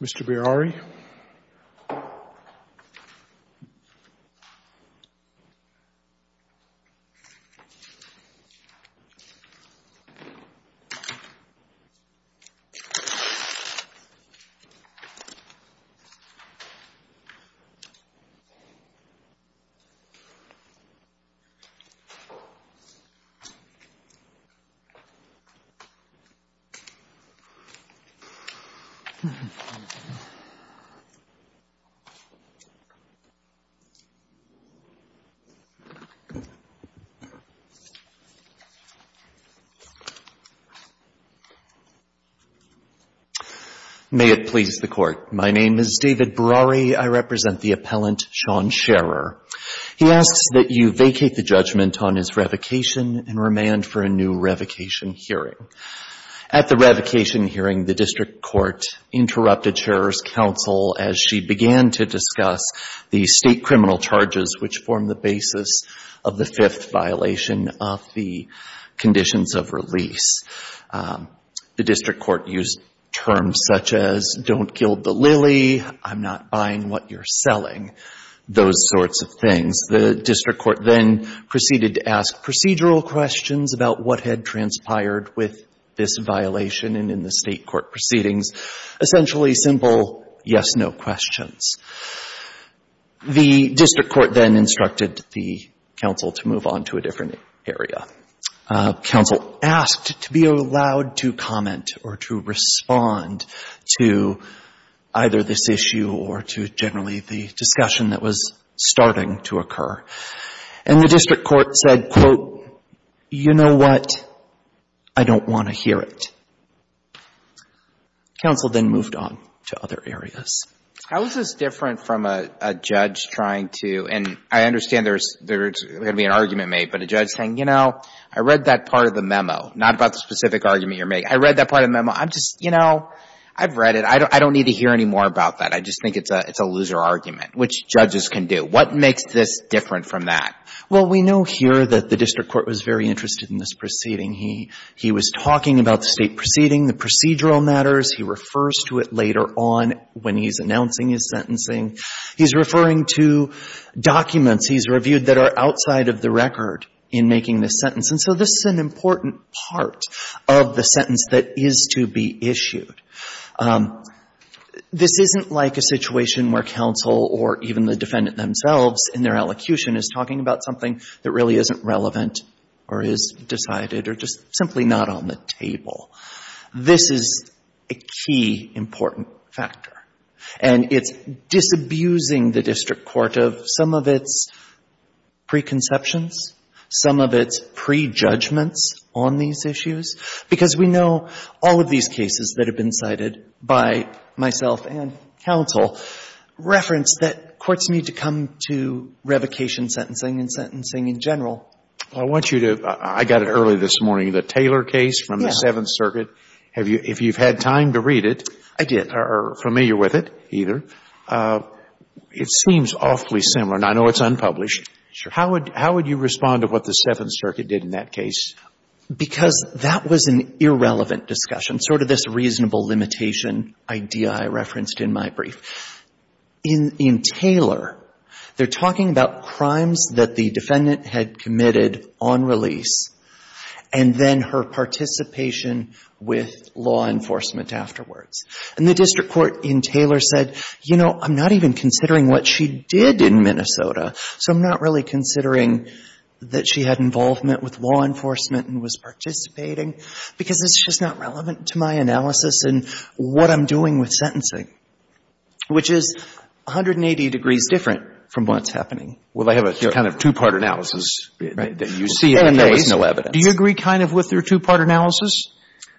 Mr. Birari May it please the Court, my name is David Birari. I represent the appellant, Shawn Scherer. He asks that you vacate the judgment on his revocation and remand for a new revocation hearing. At the revocation hearing, the district court interrupted Scherer's counsel as she began to discuss the state criminal charges which form the basis of the fifth violation of the conditions of release. The district court used terms such as don't gild the lily, I'm not buying what you're selling, those sorts of things. The district court then proceeded to ask procedural questions about what had transpired with this violation and in the state court proceedings. Essentially simple yes-no questions. The district court then instructed the counsel to move on to a different area. Counsel asked to be allowed to comment or to respond to either this issue or to generally the discussion that was starting to occur. And the district court said, quote, you know what, I don't want to hear it. Counsel then moved on to other areas. David Birari How is this different from a judge trying to, and I understand there's going to be an argument made, but a judge saying, you know, I read that part of the memo, not about the specific argument you're making. I read that part of the memo. I'm just, you know, I've read it. I don't need to hear any more about that. I just think it's a loser argument, which judges can do. What makes this different from that? Andrew Coyne Well, we know here that the district court was very interested in this proceeding. He was talking about the state proceeding, the procedural matters. He refers to it later on when he's announcing his sentencing. He's referring to documents he's reviewed that are outside of the record in making this sentence. And so this is an important part of the sentence that is to be issued. This isn't like a situation where counsel or even the defendant themselves in their elocution is talking about something that really isn't relevant or is decided or just simply not on the table. This is a key, important factor. And it's disabusing the district court of some of its preconceptions, some of its prejudgments on these issues, because we know all of these cases that have been submitted and cited by myself and counsel reference that courts need to come to revocation sentencing and sentencing in general. Scalia I want you to, I got it early this morning, the Taylor case from the Seventh Circuit. Andrew Coyne Yeah. Scalia Have you, if you've had time to read it. Andrew Coyne I did. Scalia Are familiar with it either. It seems awfully similar, and I know it's unpublished. Andrew Coyne Sure. Scalia How would you respond to what the Seventh Circuit did in that case? Andrew Coyne Because that was an irrelevant discussion, sort of this reasonable limitation idea I referenced in my brief. In Taylor, they're talking about crimes that the defendant had committed on release and then her participation with law enforcement afterwards. And the district court in Taylor said, you know, I'm not even considering what she did in Minnesota, so I'm not really considering that she had involvement with law enforcement and was participating, because it's just not relevant to my analysis and what I'm doing with sentencing, which is 180 degrees different from what's happening. Scalia Well, they have a kind of two-part analysis that you see and there was no evidence. Andrew Coyne Do you agree kind of with their two-part analysis?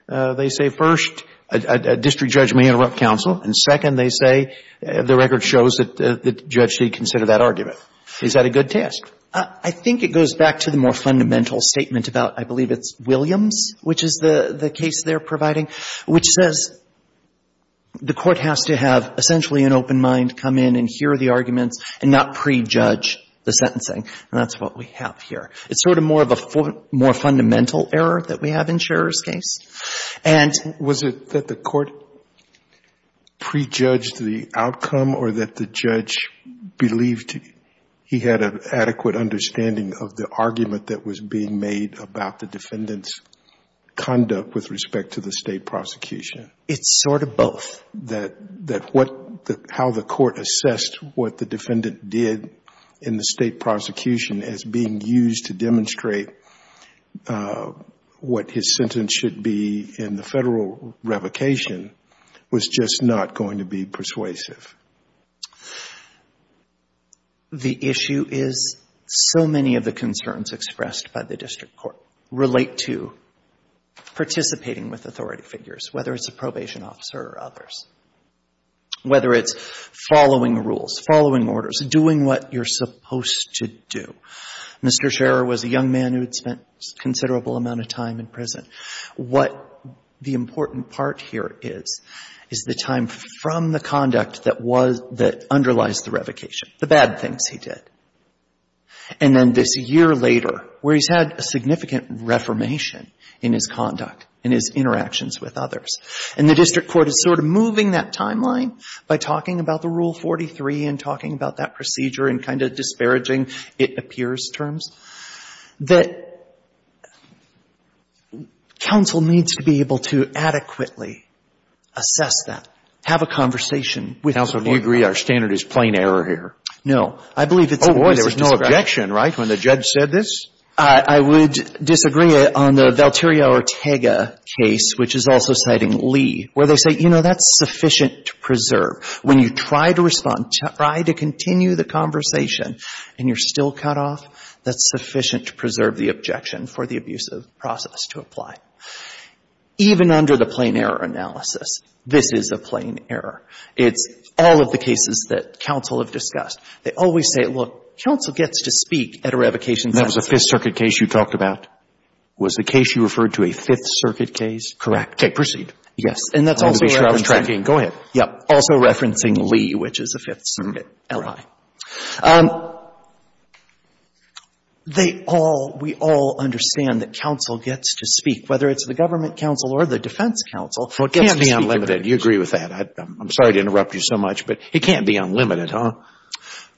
They say first, a district judge may interrupt counsel, and second, they say the record shows that the judge did consider that argument. Is that a good test? I think it goes back to the more fundamental statement about, I believe it's Williams, which is the case they're providing, which says the court has to have essentially an open mind come in and hear the arguments and not prejudge the sentencing. And that's what we have here. It's sort of more of a fundamental error that we have in Scherer's case. Scalia Was it that the court prejudged the outcome or that the judge believed he had an adequate understanding of the argument that was being made about the defendant's conduct with respect to the state prosecution? Andrew Coyne It's sort of both. Scalia That what, how the court assessed what the defendant did in the state prosecution as being used to demonstrate what his sentence should be in the Federal revocation was just not going to be persuasive? Andrew Coyne The issue is so many of the concerns expressed by the district court relate to participating with authority figures, whether it's a probation officer or others, whether it's following rules, following orders, doing what you're supposed to do. Mr. Scherer was a young man who had spent a considerable amount of time in prison. What the important part here is, is the time from the conduct that was, that underlies the revocation, the bad things he did. And then this year later, where he's had a significant reformation in his conduct and his interactions with others, and the district court is sort of moving that timeline by talking about the Rule 43 and talking about that procedure and kind of the disparaging, it appears, terms, that counsel needs to be able to adequately assess that, have a conversation with the lawyer. Breyer We agree our standard is plain error here. Andrew Coyne No. I believe it's a reason to disagree. Breyer Oh, boy, there was no objection, right, when the judge said this? Andrew Coyne I would disagree on the Valterio Ortega case, which is also citing Lee, where they say, you know, that's sufficient to preserve. When you try to respond, try to continue the conversation, and you're still cut off, that's sufficient to preserve the objection for the abusive process to apply. Even under the plain error analysis, this is a plain error. It's all of the cases that counsel have discussed. They always say, look, counsel gets to speak at a revocation session. Breyer That was a Fifth Circuit case you talked about. Was the case you referred to a Fifth Circuit case? Andrew Coyne Correct. Breyer Okay. Proceed. And that's also where I've been trying to go ahead. Andrew Coyne Yeah. Also referencing Lee, which is a Fifth Circuit ally. Breyer All right. Andrew Coyne They all, we all understand that counsel gets to speak. Whether it's the government counsel or the defense counsel gets to speak. Breyer Well, it can't be unlimited. You agree with that. I'm sorry to interrupt you so much, but it can't be unlimited, huh? Andrew Coyne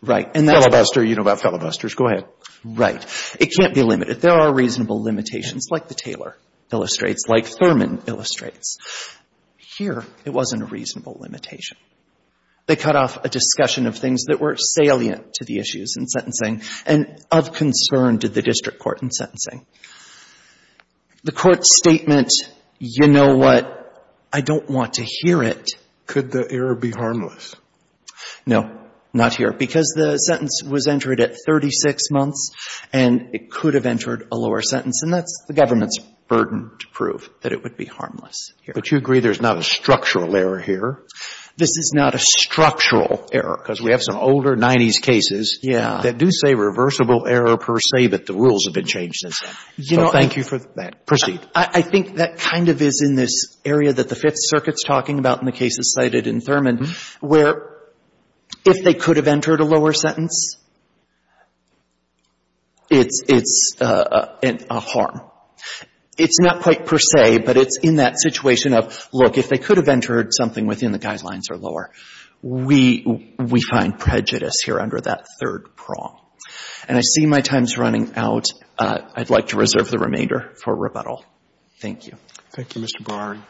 Right. And that's why. Breyer Filibuster. You know about filibusters. Go ahead. Andrew Coyne Right. It can't be limited. There are reasonable limitations, like the Taylor illustrates, like Thurman illustrates. Here, it wasn't a reasonable limitation. They cut off a discussion of things that were salient to the issues in sentencing and of concern to the district court in sentencing. The court's statement, you know what, I don't want to hear it. Breyer Could the error be harmless? Andrew Coyne No. Not here. Because the sentence was entered at 36 months, and it could have entered a lower sentence. It's harmless here. Breyer But you agree there's not a structural error here? Andrew Coyne This is not a structural error, because we have some older 90s cases that do say reversible error per se, but the rules have been changed since then. So thank you for that. Breyer Proceed. Andrew Coyne I think that kind of is in this area that the Fifth Circuit's talking about in the cases cited in Thurman, where if they could have entered a lower sentence, it's a harm. It's not quite per se, but it's in that situation of, look, if they could have entered something within the guidelines or lower, we find prejudice here under that third prong. And I see my time's running out. I'd like to reserve the remainder for rebuttal. Thank you. Roberts Thank you, Mr. Barn.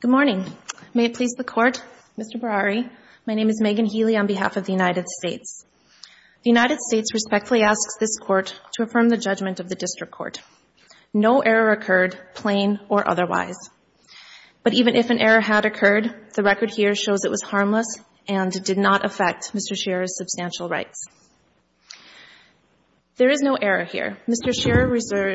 Good morning. May it please the Court, Mr. Barari. My name is Megan Healy on behalf of the United States. The United States respectfully asks this Court to affirm the judgment of the District Court. No error occurred, plain or otherwise. But even if an error had occurred, the record here shows it was harmless and did not affect Mr. Scherer's substantial rights. There is no error here. Mr. Scherer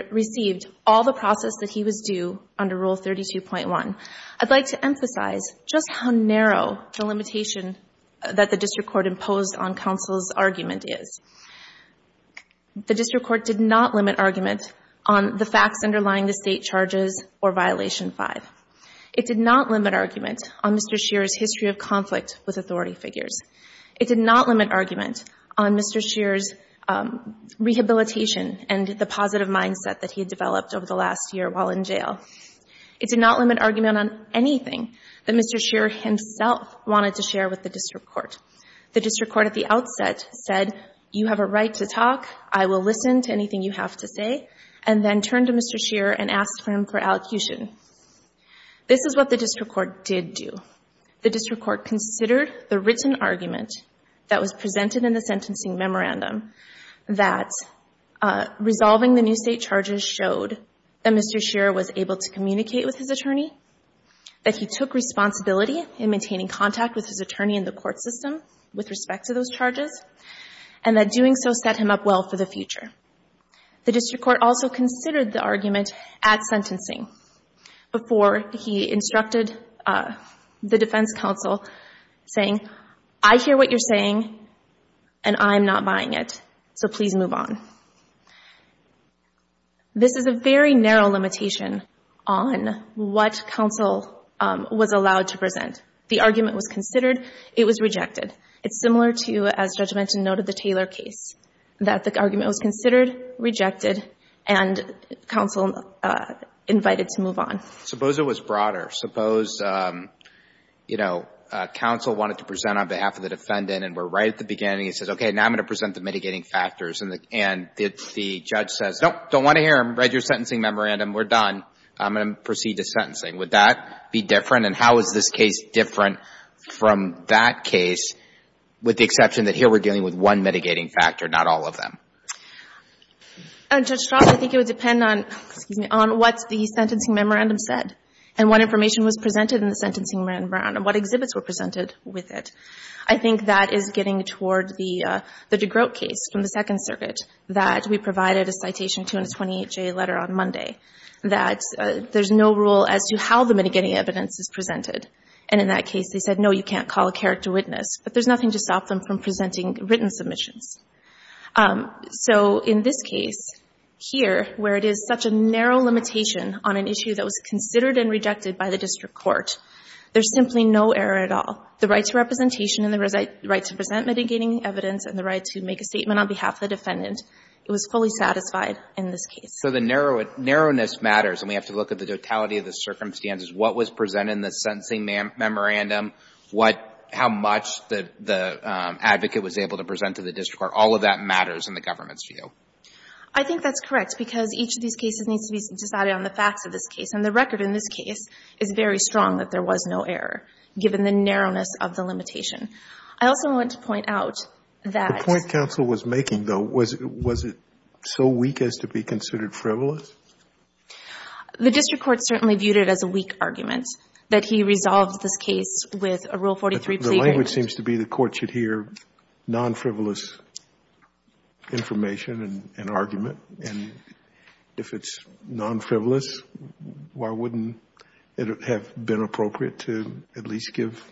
received all the process that he was due under Rule 32.1. I'd like to emphasize just how narrow the limitation that the District Court imposed on counsel's argument is. The District Court did not limit argument on the facts underlying the State charges or Violation V. It did not limit argument on Mr. Scherer's history of conflict with authority figures. It did not limit argument on Mr. Scherer's rehabilitation and the positive mindset that he had developed over the last year while in jail. It did not limit argument on anything that Mr. Scherer himself wanted to share with the District Court. The District Court at the outset said, you have a right to talk, I will listen to anything you have to say, and then turned to Mr. Scherer and asked for him for allocution. This is what the District Court did do. The District Court considered the written argument that was presented in the sentencing memorandum that resolving the new State charges showed that Mr. Scherer was able to communicate with his attorney, that he took responsibility in maintaining contact with his attorney in the court system with respect to those charges, and that doing so set him up well for the future. The District Court also considered the argument at sentencing before he instructed the defense counsel saying, I hear what you're saying, and I'm not buying it, so please move on. This is a very narrow limitation on what counsel was allowed to present. The argument was considered, it was rejected. It's similar to, as Judge Menton noted, the Taylor case, that the argument was considered, rejected, and counsel invited to move on. Suppose it was broader. Suppose, you know, counsel wanted to present on behalf of the defendant, and we're right at the beginning. It says, okay, now I'm going to present the mitigating factors, and the judge says, no, don't want to hear them. Read your sentencing memorandum. We're done. I'm going to proceed to sentencing. Would that be different, and how is this case different from that case, with the exception that here we're dealing with one mitigating factor, not all of them? And, Judge Strauss, I think it would depend on, excuse me, on what the sentencing memorandum said, and what information was presented in the sentencing memorandum, what exhibits were presented with it. I think that is getting toward the DeGroat case from the Second Circuit, that we provided a Citation 228J letter on Monday, that there's no rule as to how the mitigating evidence is presented. And in that case, they said, no, you can't call a character witness. But there's nothing to stop them from presenting written submissions. So in this case, here, where it is such a narrow limitation on an issue that was considered and rejected by the district court, there's simply no error at all. The right to representation and the right to present mitigating evidence and the right to make a statement on behalf of the defendant, it was fully satisfied in this case. So the narrowness matters, and we have to look at the totality of the circumstances. What was presented in the sentencing memorandum? How much the advocate was able to present to the district court? All of that matters in the government's view. I think that's correct, because each of these cases needs to be decided on the facts of this case. And the record in this case is very strong that there was no error, given the narrowness of the limitation. I also want to point out that the point counsel was making, though, was it so weak as to be considered frivolous? The district court certainly viewed it as a weak argument, that he resolved this case with a Rule 43 plea. The language seems to be the court should hear non-frivolous information and argument. And if it's non-frivolous, why wouldn't it have been appropriate to at least give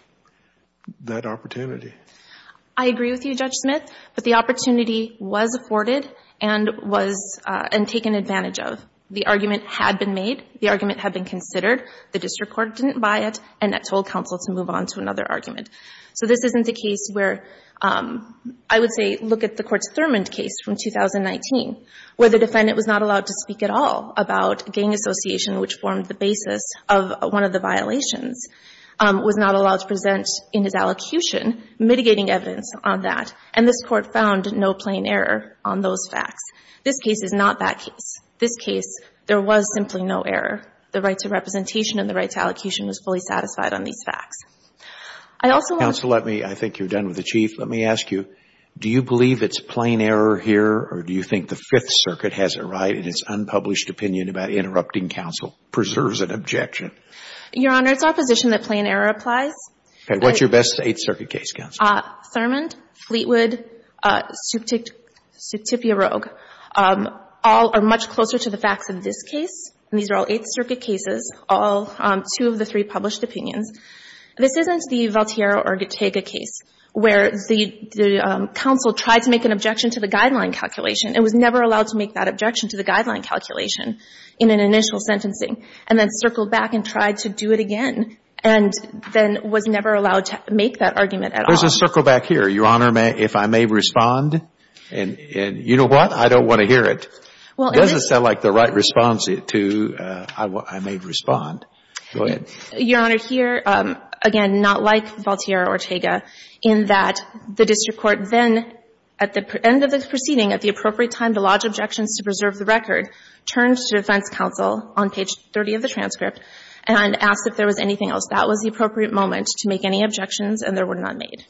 that opportunity? I agree with you, Judge Smith. But the opportunity was afforded and was taken advantage of. The argument had been made. The argument had been considered. The district court didn't buy it. And that told counsel to move on to another argument. So this isn't the case where, I would say, look at the Court's Thurmond case from 2019, where the defendant was not allowed to speak at all about gang association, which formed the basis of one of the violations, was not allowed to present in his allocution mitigating evidence on that. And this Court found no plain error on those facts. This case is not that case. This case, there was simply no error. The right to representation and the right to allocation was fully satisfied on these facts. I also want to ---- Counsel, let me ---- I think you're done with the Chief. Let me ask you, do you believe it's plain error here, or do you think the Fifth Circuit has it right in its unpublished opinion about interrupting counsel preserves an objection? Your Honor, it's our position that plain error applies. Okay. What's your best Eighth Circuit case, counsel? Thurmond, Fleetwood, Suptipio Roeg, all are much closer to the facts in this case. And these are all Eighth Circuit cases, all two of the three published opinions. This isn't the Valtiero or Guttega case, where the counsel tried to make an objection to the guideline calculation and was never allowed to make that objection to the guideline calculation in an initial sentencing, and then circled back and tried to do it again, and then was never allowed to make that argument at all. There's a circle back here, Your Honor, if I may respond. And you know what? I don't want to hear it. It doesn't sound like the right response to I may respond. Go ahead. Your Honor, here, again, not like Valtiero or Guttega, in that the district court then, at the end of the proceeding, at the appropriate time to lodge objections to preserve the record, turned to defense counsel on page 30 of the transcript and asked if there was anything else. That was the appropriate moment to make any objections, and there were none made.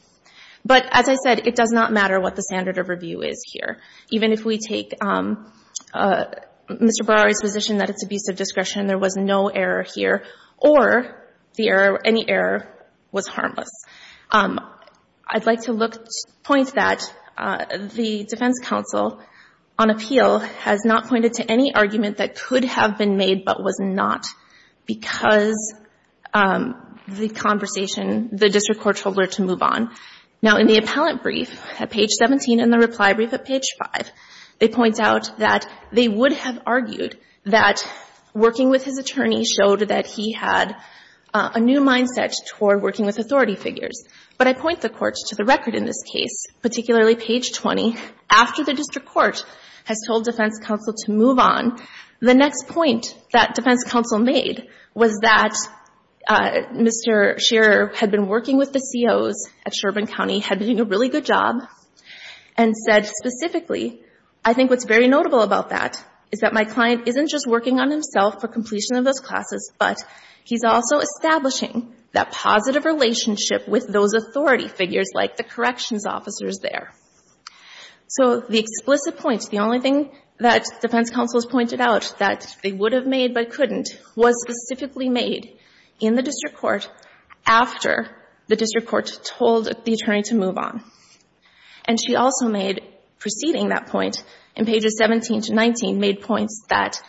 But as I said, it does not matter what the standard of review is here. Even if we take Mr. Brower's position that it's abusive discretion, there was no error here, or the error, any error was harmless. I'd like to point that the defense counsel on appeal has not pointed to any argument that could have been made but was not, because the conversation, the district court told her to move on. Now, in the appellant brief at page 17 and the reply brief at page 5, they point out that they would have argued that working with his attorney showed that he had a new mindset toward working with authority figures. But I point the court to the record in this case, particularly page 20, after the district court has told defense counsel to move on. The next point that defense counsel made was that Mr. Scherer had been working with the COs at Sherbourne County, had been doing a really good job, and said specifically, I think what's very notable about that is that my client isn't just that positive relationship with those authority figures like the corrections officers there. So the explicit points, the only thing that defense counsel has pointed out that they would have made but couldn't, was specifically made in the district court after the district court told the attorney to move on. And she also made, preceding that point, in pages 17 to 19, made points that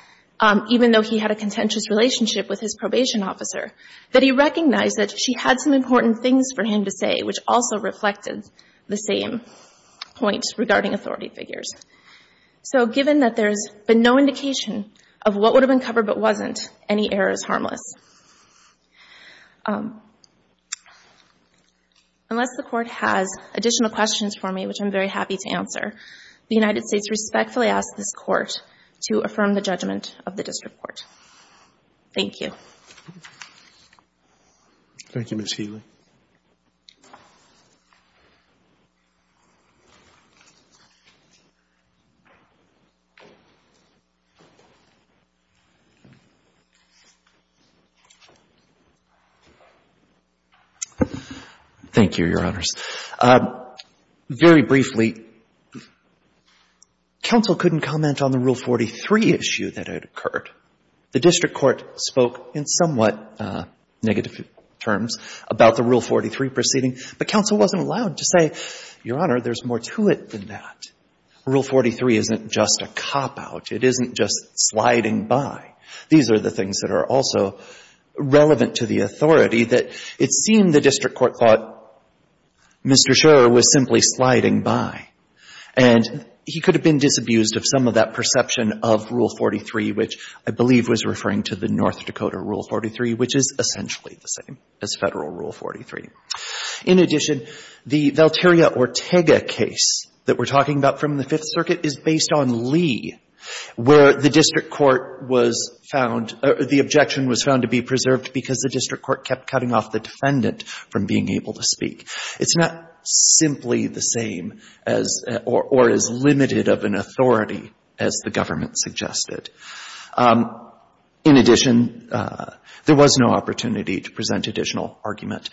even though he had a contentious relationship with his probation officer, that he recognized that she had some important things for him to say, which also reflected the same points regarding authority figures. So given that there's been no indication of what would have been covered but wasn't, any error is harmless. Unless the court has additional questions for me, which I'm very happy to answer, the United States respectfully asks this Court to affirm the judgment of the district court. Thank you. Thank you, Ms. Healy. Thank you, Your Honors. Very briefly, counsel couldn't comment on the Rule 43 issue that had occurred. The district court spoke in somewhat negative terms about the Rule 43 proceeding, but counsel wasn't allowed to say, Your Honor, there's more to it than that. Rule 43 isn't just a cop-out. It isn't just sliding by. These are the things that are also relevant to the authority that it seemed the district court thought Mr. Scherr was simply sliding by. And he could have been disabused of some of that perception of Rule 43, which I believe was referring to the North Dakota Rule 43, which is essentially the same as Federal Rule 43. In addition, the Valteria Ortega case that we're talking about from the Fifth Circuit is based on Lee, where the district court was found or the objection was found to be being able to speak. It's not simply the same as or as limited of an authority as the government suggested. In addition, there was no opportunity to present additional argument.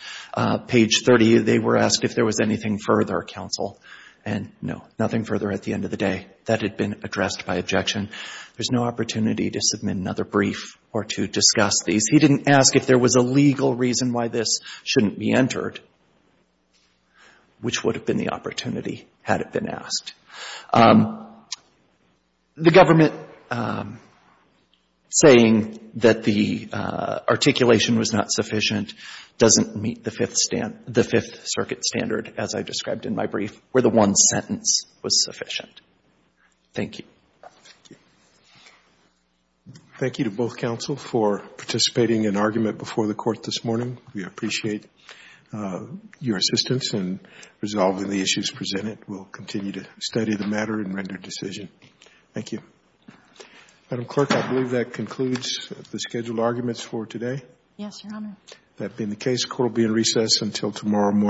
Page 30, they were asked if there was anything further, counsel, and no, nothing further at the end of the day. That had been addressed by objection. There's no opportunity to submit another brief or to discuss these. He didn't ask if there was a legal reason why this shouldn't be entered, which would have been the opportunity had it been asked. The government saying that the articulation was not sufficient doesn't meet the Fifth Circuit standard, as I described in my brief, where the one sentence was sufficient. Thank you. Thank you. Thank you to both counsel for participating in argument before the court this morning. We appreciate your assistance in resolving the issues presented. We'll continue to study the matter and render decision. Thank you. Madam Clerk, I believe that concludes the scheduled arguments for today. Yes, Your Honor. That being the case, court will be in recess until tomorrow morning.